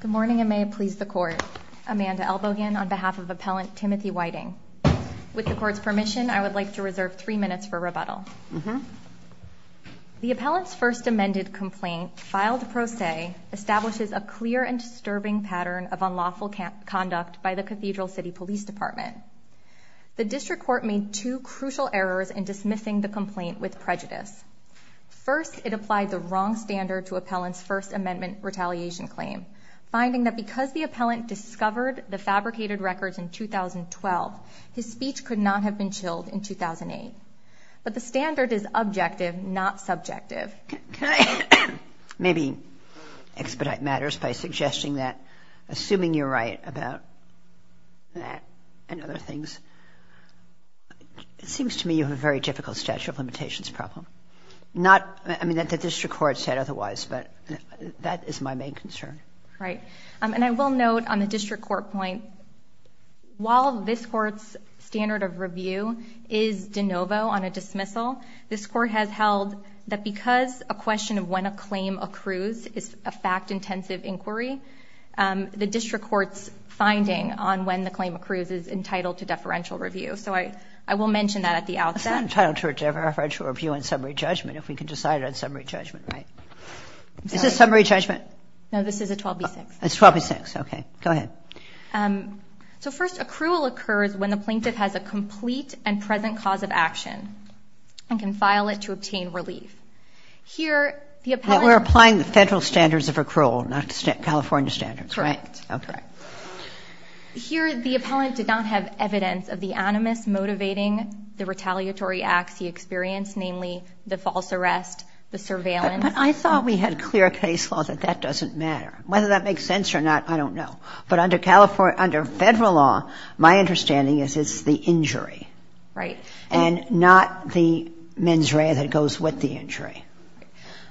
Good morning, and may it please the Court. Amanda Elbogain on behalf of Appellant Timothy Whiting. With the Court's permission, I would like to reserve three minutes for rebuttal. The Appellant's first amended complaint, filed pro se, establishes a clear and disturbing pattern of unlawful conduct by the Cathedral City Police Department. The District Court made two crucial errors in dismissing the complaint with prejudice. First, it applied the wrong standard to Appellant's first amendment retaliation claim, finding that because the Appellant discovered the fabricated records in 2012, his speech could not have been chilled in 2008. But the standard is objective, not subjective. Maybe expedite matters by suggesting that, assuming you're right about that and other things, it seems to me you have a very difficult statute of limitations problem. Not, I mean, the District Court said otherwise, but that is my main concern. Right. And I will note on the District Court point, while this Court's standard of review is de novo on a dismissal, this Court has held that because a question of when a claim accrues is a fact-intensive inquiry, the District Court's finding on when the claim accrues is entitled to deferential review. So I will mention that at the outset. It's not entitled to a deferential review on summary judgment, if we can decide on summary judgment, right? Is this summary judgment? No, this is a 12B6. It's 12B6. Okay. Go ahead. So first, accrual occurs when the plaintiff has a complete and present cause of action and can file it to obtain relief. Here, the Appellant... We're applying the federal standards of accrual, not California standards, right? Correct. Okay. Here, the Appellant did not have evidence of the animus motivating the retaliatory acts he experienced, namely the false arrest, the surveillance. I thought we had clear case law that that doesn't matter. Whether that makes sense or not, I don't know. But under California, under federal law, my understanding is it's the injury. And not the mens rea that goes with the injury.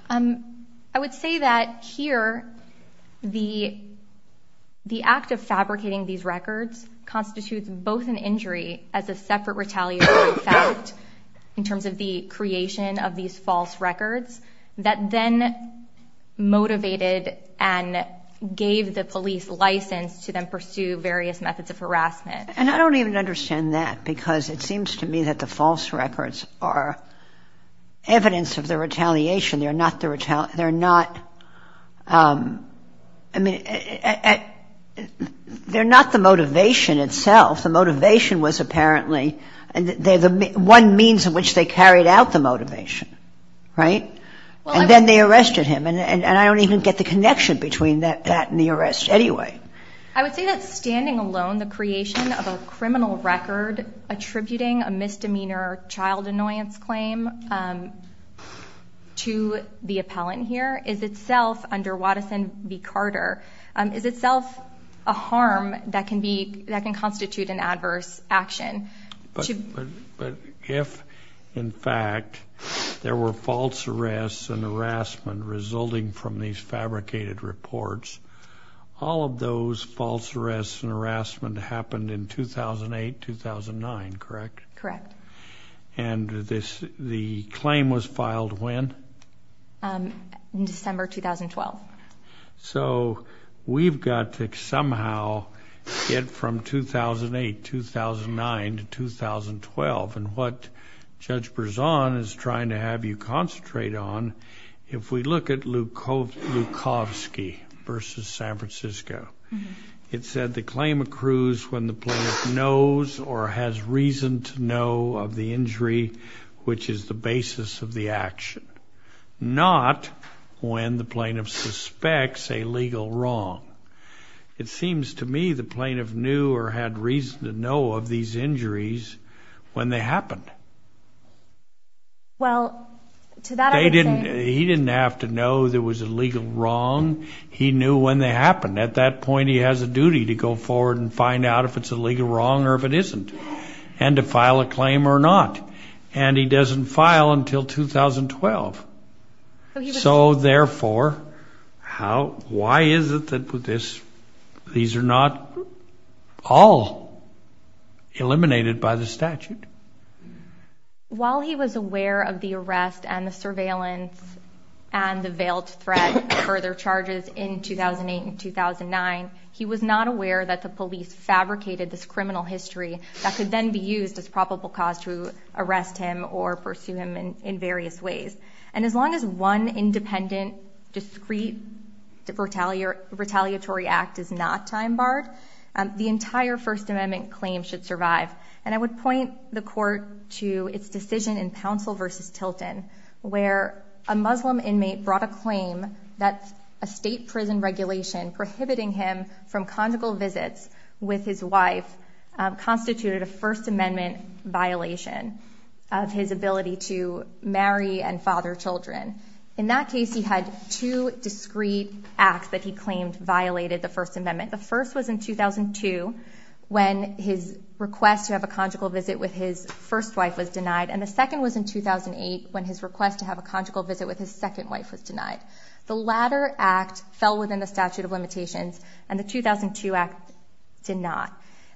I would say that here, the act of fabricating these records constitutes both an injury as a separate retaliatory fact in terms of the creation of these false records that then motivated and gave the police license to then pursue various methods of harassment. And I don't even understand that because it seems to me that the false records are evidence of the retaliation. They're not the motivation itself. The motivation was apparently one means in which they carried out the motivation, right? And then they arrested him. And I don't even get the connection between that and the arrest anyway. I would say that standing alone, the creation of a criminal record attributing a misdemeanor child annoyance claim to the appellant here is itself, under Wattison v. Carter, is itself a harm that can constitute an adverse action. But if, in fact, there were false arrests and harassment resulting from these fabricated reports, all of those false arrests and harassment happened in 2008, 2009, correct? Correct. And the claim was filed when? In December 2012. So we've got to somehow get from 2008, 2009 to 2012. And what Judge Berzon is trying to have you concentrate on, if we look at Lukowski v. San Francisco, it said the claim accrues when the plaintiff knows or has reason to know of the injury, which is the basis of the action, not when the plaintiff suspects a legal wrong. It seems to me the plaintiff knew or had reason to know of these injuries when they happened. Well, to that I would say... He didn't have to know there was a legal wrong. He knew when they happened. At that point he has a duty to go forward and find out if it's a legal wrong or if it isn't, and to file a claim or not. And he doesn't file until 2012. So therefore, why is it that these are not all eliminated by the statute? While he was aware of the arrest and the surveillance and the veiled threat of further charges in 2008 and 2009, he was not aware that the police fabricated this criminal history that could then be used as probable cause to arrest him or pursue him in various ways. And as long as one independent, discreet, retaliatory act is not time-barred, the entire First Amendment claim should survive. And I would point the Court to its decision in Pouncil v. Tilton, where a Muslim inmate brought a claim that a state prison regulation prohibiting him from conjugal visits with his wife constituted a First Amendment violation of his ability to marry and father children. In that case, he had two discreet acts that he claimed violated the First Amendment. The first was in 2002, when his request to have a conjugal visit with his first wife was denied, and the second was in 2008, when his request to have a conjugal visit with his second wife was denied. The latter act fell within the statute of limitations, and the 2002 act did not.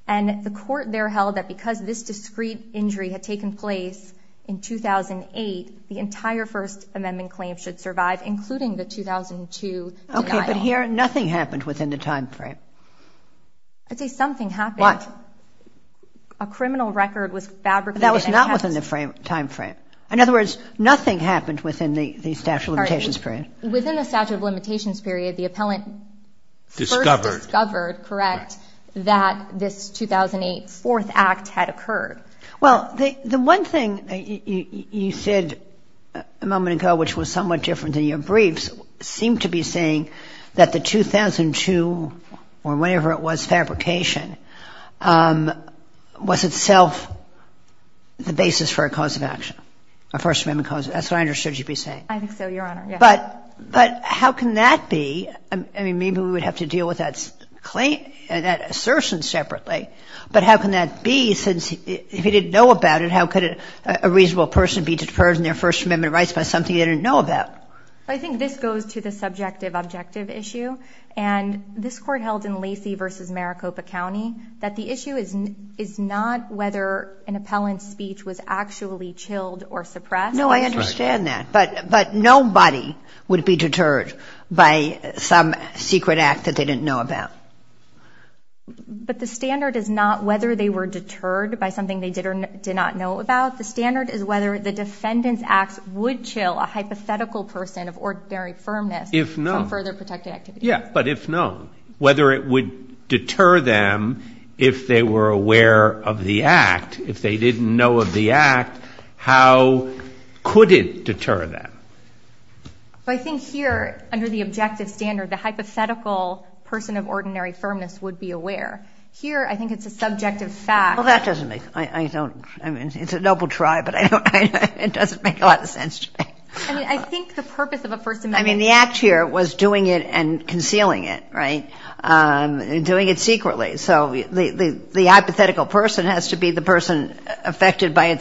And the Court there held that because this discreet injury had taken place in 2008, the entire First Amendment claim should survive, including the 2002 denial. Okay, but here, nothing happened within the time frame. I'd say something happened. What? A criminal record was fabricated. That was not within the time frame. In other words, nothing happened within the statute of limitations period. Within the statute of limitations period, the appellant first discovered, correct, that this 2008 fourth act had occurred. Well, the one thing you said a moment ago, which was somewhat different than your briefs, seemed to be saying that the 2002, or whenever it was, fabrication, was itself the basis for a cause of action, a First Amendment cause. That's what I understood you'd be saying. I think so, Your Honor. But how can that be? I mean, maybe we would have to deal with that assertion separately. But how can that be, since if he didn't know about it, how could a reasonable person be deterred in their First Amendment rights by something they didn't know about? I think this goes to the subjective-objective issue. And this Court held in Lacey v. Maricopa County that the issue is not whether an appellant's speech was actually chilled or suppressed. No, I understand that. But nobody would be deterred by some secret act that they didn't know about. But the standard is not whether they were deterred by something they did or did not know about. The standard is whether the defendant's acts would chill a hypothetical person of ordinary firmness from further protected activity. If known. Yeah, but if known. Whether it would deter them if they were aware of the act, how could it deter them? Well, I think here, under the objective standard, the hypothetical person of ordinary firmness would be aware. Here, I think it's a subjective fact. Well, that doesn't make – I don't – I mean, it's a double try, but I don't – it doesn't make a lot of sense to me. I mean, I think the purpose of a First Amendment – I mean, the act here was doing it and concealing it, right, and doing it secretly. So the hypothetical person has to be the person affected by a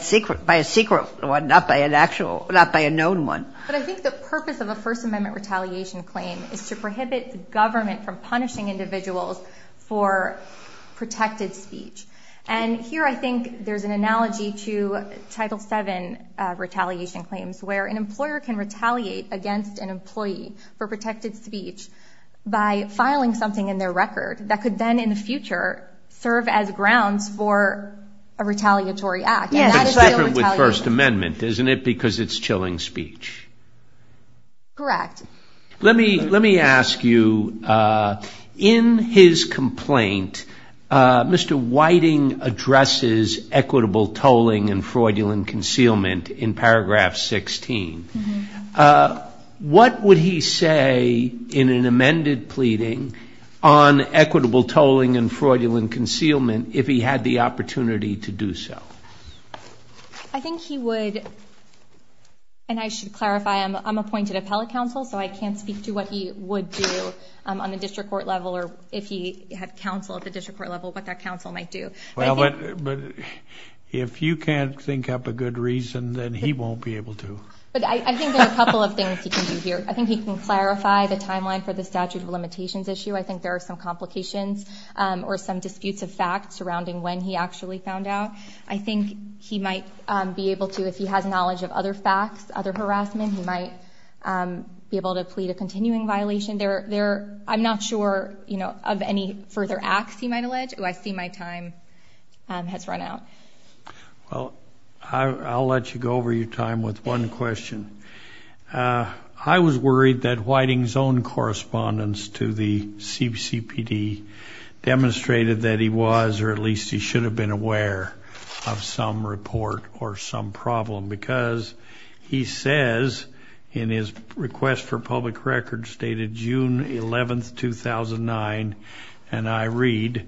secret one, not by an actual – not by a known one. But I think the purpose of a First Amendment retaliation claim is to prohibit the government from punishing individuals for protected speech. And here, I think there's an analogy to Title VII retaliation claims, where an employer can retaliate against an employee for protected speech by filing something in their record that could then, in the future, serve as grounds for a retaliatory act. And that is still retaliation. But it's different with First Amendment, isn't it, because it's chilling speech? Correct. Let me ask you, in his complaint, Mr. Whiting addresses equitable tolling and fraudulent concealment in paragraph 16. What would he say in an amended pleading on equitable tolling and fraudulent concealment if he had the opportunity to do so? I think he would – and I should clarify, I'm appointed appellate counsel, so I can't speak to what he would do on the district court level or if he had counsel at the district court level, what that counsel might do. But if you can't think up a good reason, then he won't be able to. But I think there are a couple of things he can do here. I think he can clarify the timeline for the statute of limitations issue. I think there are some complications or some disputes of fact surrounding when he actually found out. I think he might be able to, if he has knowledge of other facts, other harassment, he might be able to plead a continuing violation. I'm not sure of any further acts he might allege. Oh, I see my time has run out. Well, I'll let you go over your time with one question. I was worried that Whiting's own correspondence to the CPD demonstrated that he was or at least he should have been aware of some report or some problem because he says in his request for public record stated June 11, 2009, and I read,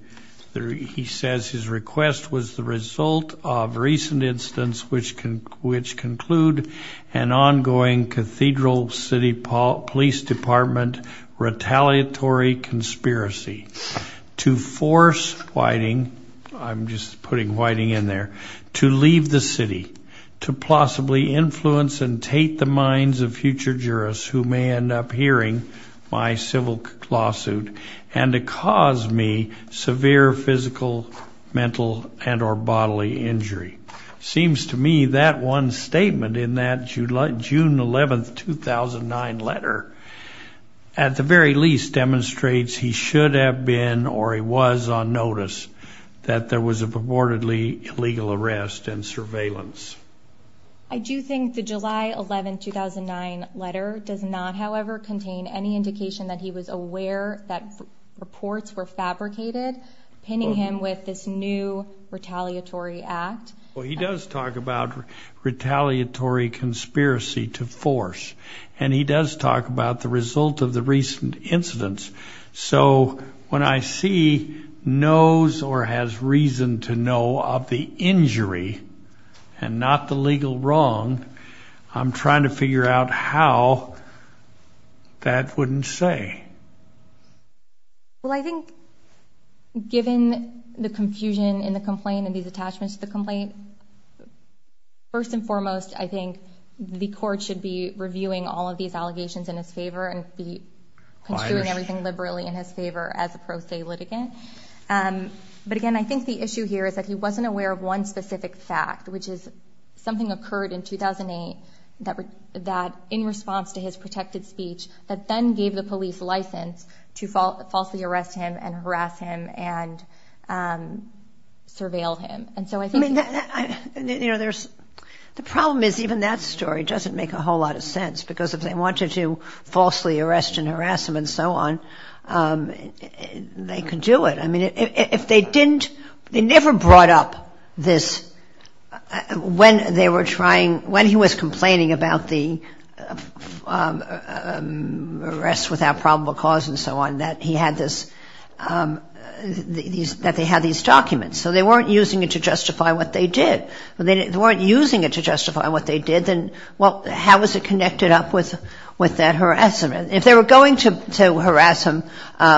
he says his request was the result of recent incidents, which can, which conclude an ongoing cathedral city police department retaliatory conspiracy to force Whiting, I'm just putting Whiting in there, to leave the city, to possibly influence and take the minds of future jurists who may end up hearing my civil work lawsuit and to cause me severe physical, mental, and or bodily injury. Seems to me that one statement in that June 11, 2009 letter at the very least demonstrates he should have been or he was on notice that there was a purportedly illegal arrest and surveillance. I do think the July 11, 2009 letter does not, however, contain any indication that he was aware that reports were fabricated, pinning him with this new retaliatory act. Well, he does talk about retaliatory conspiracy to force, and he does talk about the result of the recent incidents. So when I see knows or has reason to know of the injury and not the legal wrong, I'm trying to figure out how that wouldn't say. Well, I think given the confusion in the complaint and these attachments to the complaint, first and foremost, I think the court should be reviewing all of these allegations in his favor and be construing everything liberally in his favor as a pro se litigant. But again, I think the issue here is that he wasn't aware of one specific fact, which is something occurred in 2008 that in response to his protected speech that then gave the police license to falsely arrest him and harass him and surveil him. And so I think... You know, the problem is even that story doesn't make a whole lot of sense because if they wanted to falsely arrest and harass him and so on, they could do it. I mean, if they didn't... They never brought up this... When they were trying... When he was complaining about the arrest without probable cause and so on, that he had this... That they had these documents. So they weren't using it to justify what they did. They weren't using it to justify what they did. Well, how was it connected up with that harassment? If they were going to harass him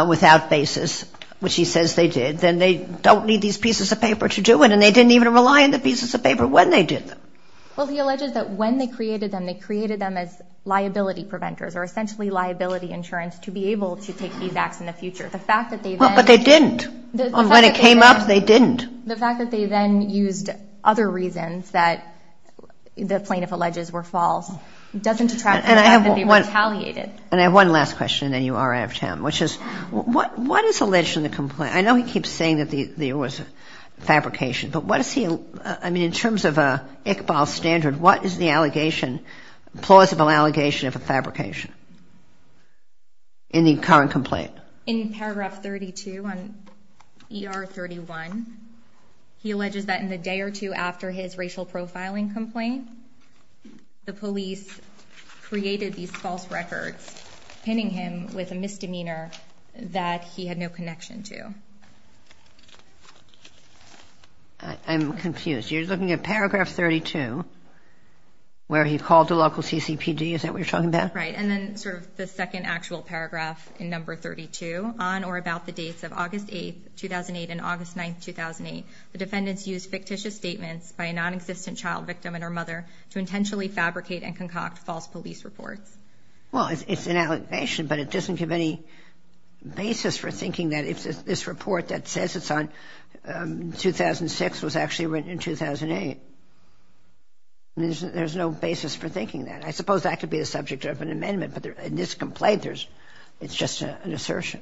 without basis, which he says they did, then they don't need these pieces of paper to do it, and they didn't even rely on the pieces of paper when they did them. Well, he alleged that when they created them, they created them as liability preventers or essentially liability insurance to be able to take these acts in the future. The fact that they then... But they didn't. When it came up, they didn't. The fact that they then used other reasons that the plaintiff alleges were false doesn't detract from the fact that they were retaliated. And I have one last question, and then you are out of time, which is what is alleged in the complaint? I know he keeps saying that there was a fabrication, but what is he... I mean, in terms of Iqbal's standard, what is the allegation, plausible allegation of a fabrication in the current complaint? In paragraph 32 on ER 31, he alleges that in the day or two after his racial profiling complaint, the police created these false records, pinning him with a misdemeanor that he had no connection to. I'm confused. You're looking at paragraph 32, where he called the local CCPD, is that what you're talking about? Right, and then sort of the second actual paragraph in number 32, on or about the dates of August 8, 2008, and August 9, 2008, the defendants used fictitious statements by a nonexistent child victim and her mother to intentionally fabricate and concoct false police reports. Well, it's an allegation, but it doesn't give any basis for thinking that this report that says it's on 2006 was actually written in 2008. There's no basis for thinking that. I suppose that could be the subject of an amendment, but in this complaint, it's just an assertion.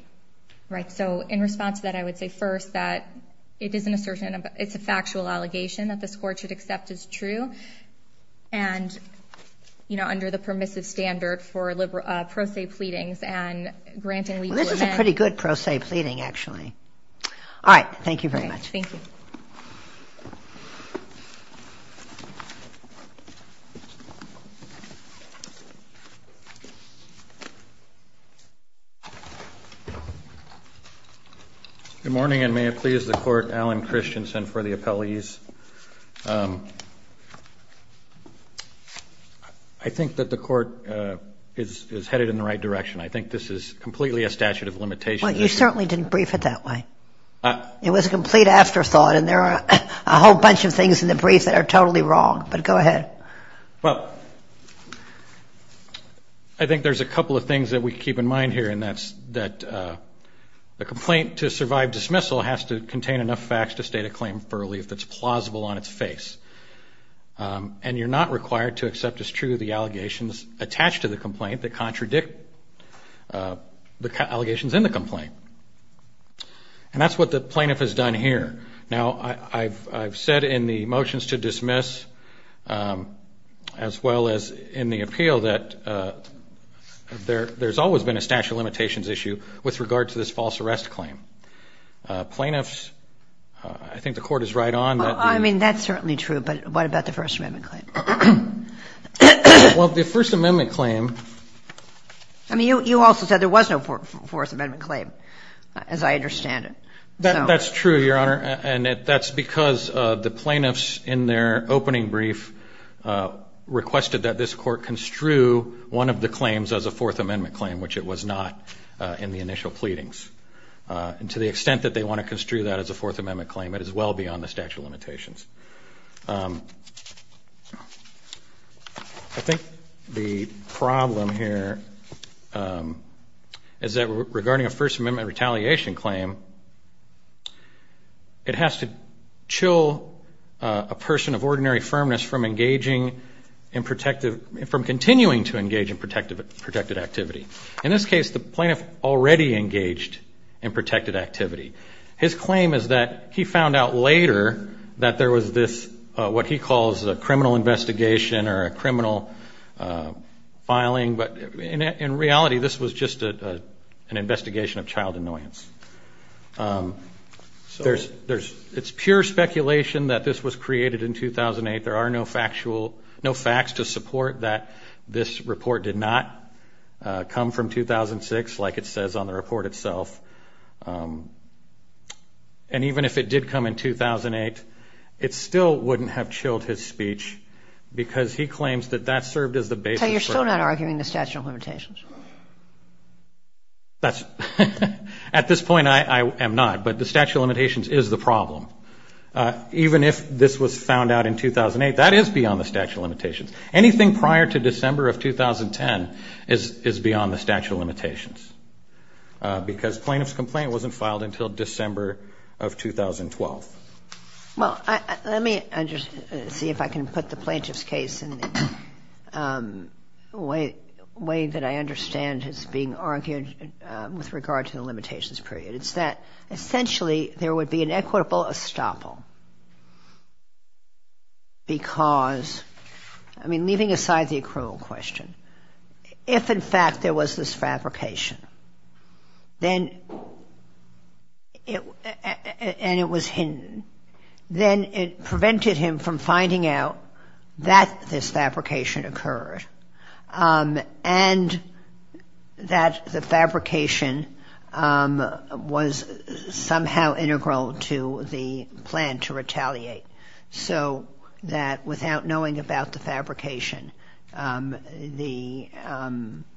Right, so in response to that, I would say first that it is an assertion. It's a factual allegation that this Court should accept as true, and under the permissive standard for pro se pleadings and granting legal events. Well, this is a pretty good pro se pleading, actually. All right, thank you very much. Okay, thank you. Good morning, and may it please the Court. Alan Christensen for the appellees. I think that the Court is headed in the right direction. I think this is completely a statute of limitations. Well, you certainly didn't brief it that way. Well, you certainly didn't brief it that way. There are a whole bunch of things in the brief that are totally wrong, but go ahead. Well, I think there's a couple of things that we keep in mind here, and that's that the complaint to survive dismissal has to contain enough facts to state a claim for relief that's plausible on its face. And you're not required to accept as true the allegations attached to the complaint that contradict the allegations in the complaint. And that's what the plaintiff has done here. Now, I've said in the motions to dismiss as well as in the appeal that there's always been a statute of limitations issue with regard to this false arrest claim. Plaintiffs, I think the Court is right on that. I mean, that's certainly true, but what about the First Amendment claim? Well, the First Amendment claim. I mean, you also said there was no Fourth Amendment claim, as I understand it. That's true, Your Honor, and that's because the plaintiffs in their opening brief requested that this Court construe one of the claims as a Fourth Amendment claim, which it was not in the initial pleadings. And to the extent that they want to construe that as a Fourth Amendment claim, it is well beyond the statute of limitations. I think the problem here is that regarding a First Amendment retaliation claim, it has to chill a person of ordinary firmness from engaging in protective – from continuing to engage in protected activity. In this case, the plaintiff already engaged in protected activity. His claim is that he found out later that there was this, what he calls, a criminal investigation or a criminal filing, but in reality this was just an investigation of child annoyance. So it's pure speculation that this was created in 2008. There are no factual – no facts to support that this report did not come from 2006, like it says on the report itself. And even if it did come in 2008, it still wouldn't have chilled his speech because he claims that that served as the basis for – So you're still not arguing the statute of limitations? That's – at this point I am not, but the statute of limitations is the problem. Even if this was found out in 2008, that is beyond the statute of limitations. Anything prior to December of 2010 is beyond the statute of limitations because plaintiff's complaint wasn't filed until December of 2012. Well, let me see if I can put the plaintiff's case in a way that I understand as being argued with regard to the limitations period. It's that essentially there would be an equitable estoppel because – I mean, leaving aside the accrual question, if in fact there was this fabrication and it was hidden, then it prevented him from finding out that this fabrication occurred and that the fabrication was somehow integral to the plan to retaliate. So that without knowing about the fabrication, the –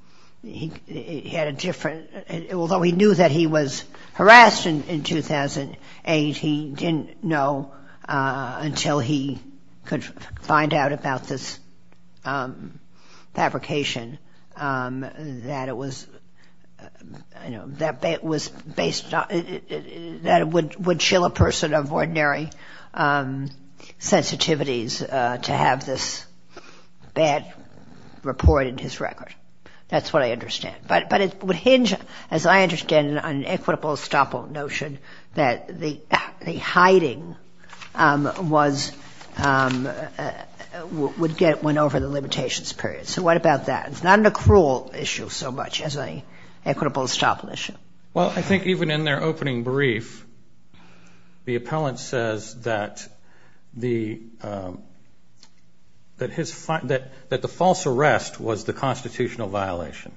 he had a different – although he knew that he was harassed in 2008, he didn't know until he could find out about this fabrication that it was based on – that it would chill a person of ordinary sensitivities to have this bad report in his record. That's what I understand. But it would hinge, as I understand it, on an equitable estoppel notion that the hiding was – went over the limitations period. So what about that? It's not an accrual issue so much as an equitable estoppel issue. Well, I think even in their opening brief, the appellant says that the false arrest was the constitutional violation.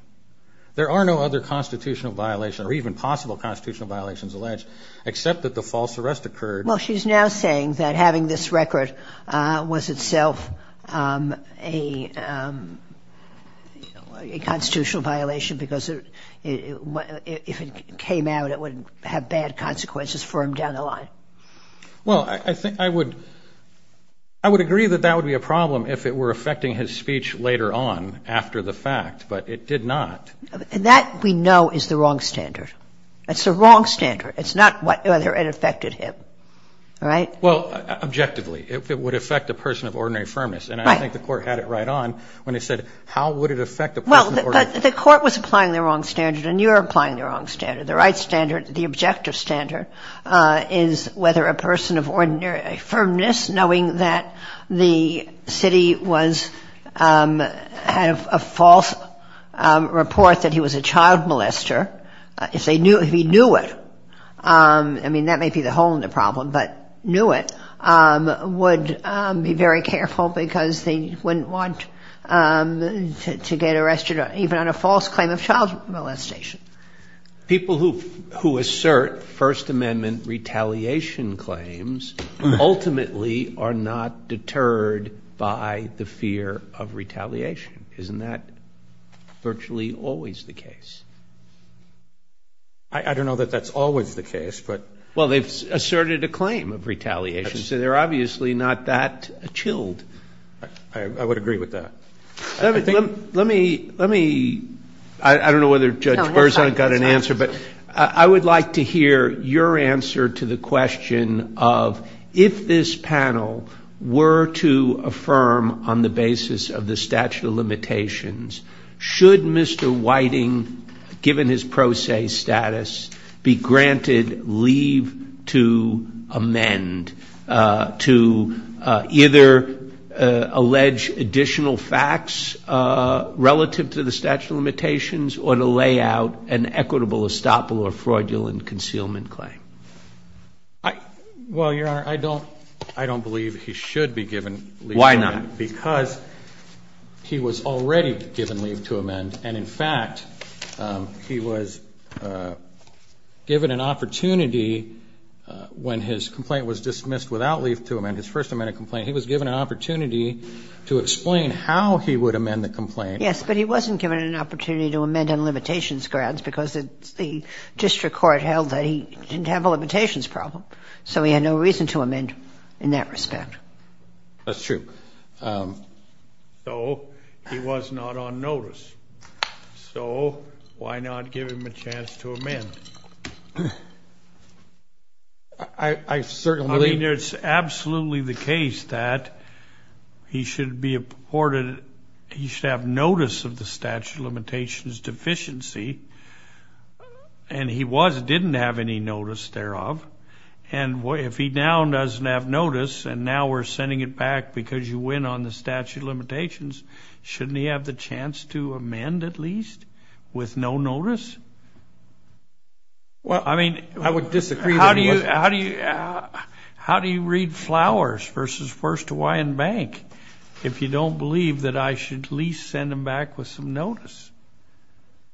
There are no other constitutional violations or even possible constitutional violations alleged except that the false arrest occurred. Well, she's now saying that having this record was itself a constitutional violation because if it came out, it would have bad consequences for him down the line. Well, I think I would – I would agree that that would be a problem if it were affecting his speech later on after the fact, but it did not. That, we know, is the wrong standard. It's the wrong standard. It's not whether it affected him. All right? Well, objectively, if it would affect a person of ordinary firmness. Right. And I think the Court had it right on when it said how would it affect a person of ordinary firmness. Well, but the Court was applying the wrong standard, and you're applying the wrong standard. The right standard, the objective standard, is whether a person of ordinary firmness, knowing that the city was – had a false report that he was a child molester, if they knew – if he knew it, I mean, that may be the hole in the problem, but knew it, would be very careful because they wouldn't want to get arrested even on a false claim of child molestation. People who assert First Amendment retaliation claims ultimately are not deterred by the fear of retaliation. Isn't that virtually always the case? I don't know that that's always the case, but – Well, they've asserted a claim of retaliation, so they're obviously not that chilled. I would agree with that. Let me – I don't know whether Judge Berzon got an answer, but I would like to hear your answer to the question of if this panel were to affirm on the basis of the statute of limitations, should Mr. Whiting, given his pro se status, be granted leave to amend to either allege additional facts relative to the statute of limitations or to lay out an equitable estoppel or fraudulent concealment claim? Well, Your Honor, I don't – I don't believe he should be given leave to amend. Why not? Because he was already given leave to amend. And, in fact, he was given an opportunity when his complaint was dismissed without leave to amend, his First Amendment complaint, he was given an opportunity to explain how he would amend the complaint. Yes, but he wasn't given an opportunity to amend on limitations grounds because the district court held that he didn't have a limitations problem. So he had no reason to amend in that respect. That's true. So he was not on notice. So why not give him a chance to amend? I certainly believe – I mean, it's absolutely the case that he should be afforded – he should have notice of the statute of limitations deficiency, and he was – didn't have any notice thereof. And if he now doesn't have notice, and now we're sending it back because you went on the statute of limitations, shouldn't he have the chance to amend at least with no notice? Well, I mean – I would disagree. How do you – how do you – how do you read flowers versus First Hawaiian Bank if you don't believe that I should at least send him back with some notice?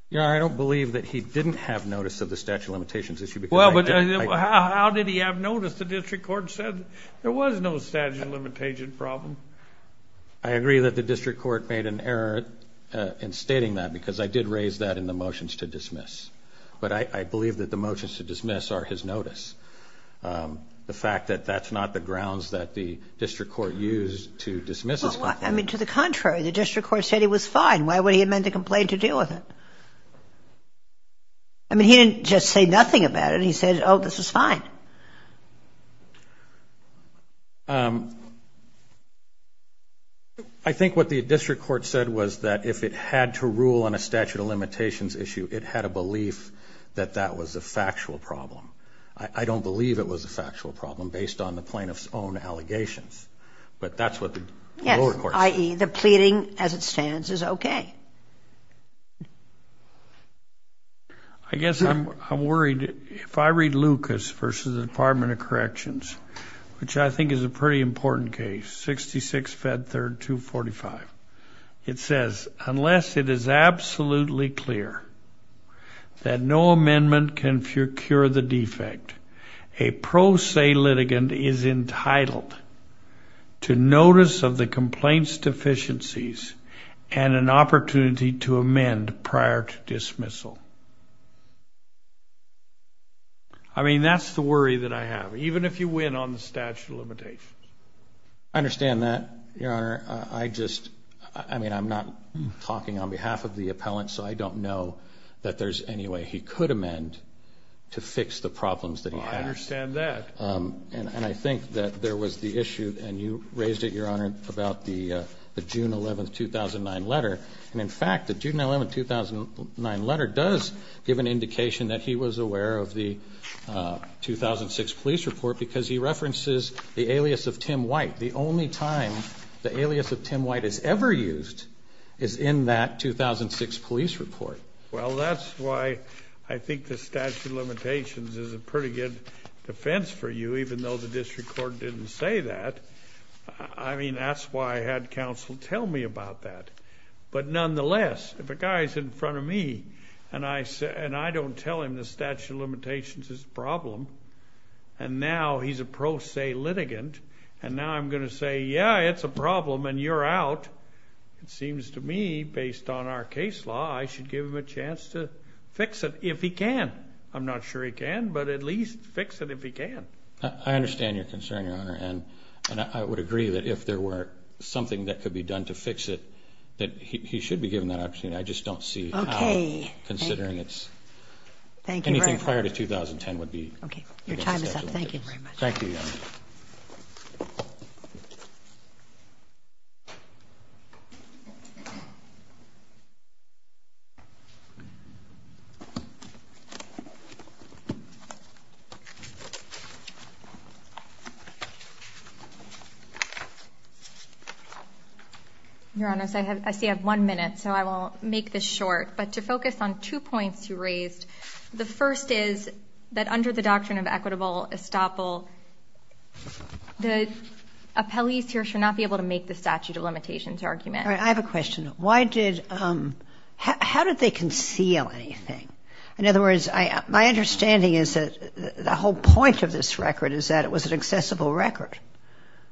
Your Honor, I don't believe that he didn't have notice of the statute of limitations issue. Well, but how did he have notice? The district court said there was no statute of limitations problem. I agree that the district court made an error in stating that because I did raise that in the motions to dismiss. But I believe that the motions to dismiss are his notice. The fact that that's not the grounds that the district court used to dismiss his complaint. I mean, to the contrary, the district court said he was fine. Why would he amend the complaint to deal with it? I mean, he didn't just say nothing about it. He said, oh, this is fine. I think what the district court said was that if it had to rule on a statute of limitations issue, it had a belief that that was a factual problem. I don't believe it was a factual problem based on the plaintiff's own allegations. But that's what the lower court said. I.e., the pleading as it stands is okay. I guess I'm worried. If I read Lucas versus the Department of Corrections, which I think is a pretty important case, 66 Fed Third 245. It says, unless it is absolutely clear that no amendment can cure the defect, a pro se litigant is entitled to notice of the complaint's deficiencies and an opportunity to amend prior to dismissal. I mean, that's the worry that I have, even if you win on the statute of limitations. I understand that, Your Honor. I just, I mean, I'm not talking on behalf of the appellant, so I don't know that there's any way he could amend to fix the problems that he has. I understand that. And I think that there was the issue, and you raised it, Your Honor, about the June 11, 2009 letter. And, in fact, the June 11, 2009 letter does give an indication that he was aware of the 2006 police report because he references the alias of Tim White. The only time the alias of Tim White is ever used is in that 2006 police report. Well, that's why I think the statute of limitations is a pretty good defense for you, even though the district court didn't say that. I mean, that's why I had counsel tell me about that. But, nonetheless, if a guy is in front of me and I don't tell him the statute of limitations is a problem, and now he's a pro se litigant, and now I'm going to say, yeah, it's a problem, and you're out, it seems to me, based on our case law, I should give him a chance to fix it if he can. I'm not sure he can, but at least fix it if he can. I understand your concern, Your Honor, and I would agree that if there were something that could be done to fix it, that he should be given that opportunity. I just don't see how, considering it's anything prior to 2010, would be. Okay, your time is up. Thank you very much. Thank you, Your Honor. Your Honor, I see I have one minute, so I will make this short. But to focus on two points you raised, the first is that under the doctrine of equitable estoppel, the appellees here should not be able to make the statute of limitations argument. I have a question. How did they conceal anything? In other words, my understanding is that the whole point of this record is that it was an accessible record,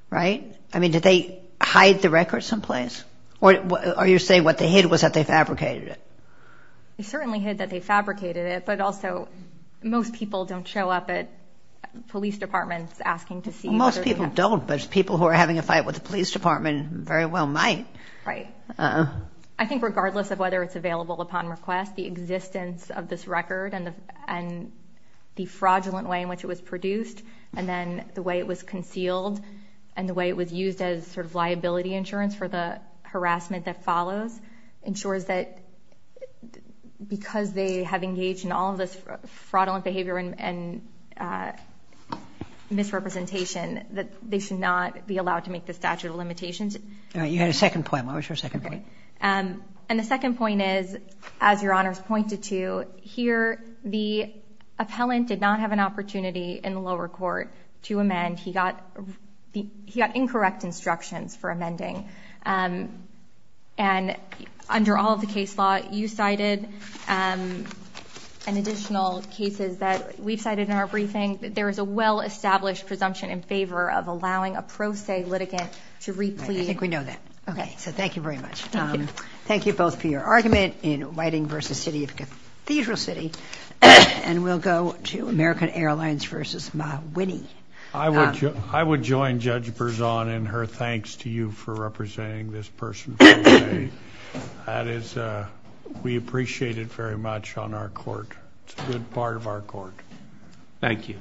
right? I mean, did they hide the record someplace? Or are you saying what they hid was that they fabricated it? They certainly hid that they fabricated it, but also most people don't show up at police departments asking to see. Most people don't, but people who are having a fight with the police department very well might. Right. I think regardless of whether it's available upon request, the existence of this record and the fraudulent way in which it was produced and then the way it was concealed and the way it was used as sort of liability insurance for the harassment that follows ensures that because they have engaged in all this fraudulent behavior and misrepresentation that they should not be allowed to make the statute of limitations. All right. You had a second point. What was your second point? And the second point is, as Your Honors pointed to, here the appellant did not have an opportunity in the lower court to amend. And he got incorrect instructions for amending. And under all of the case law you cited and additional cases that we've cited in our briefing, there is a well-established presumption in favor of allowing a pro se litigant to replete. I think we know that. Okay. So thank you very much. Thank you. Thank you both for your argument in Whiting v. City of Cathedral City. And we'll go to American Airlines v. Mah-Winnie. I would join Judge Berzon in her thanks to you for representing this person for the day. That is, we appreciate it very much on our court. It's a good part of our court. Thank you.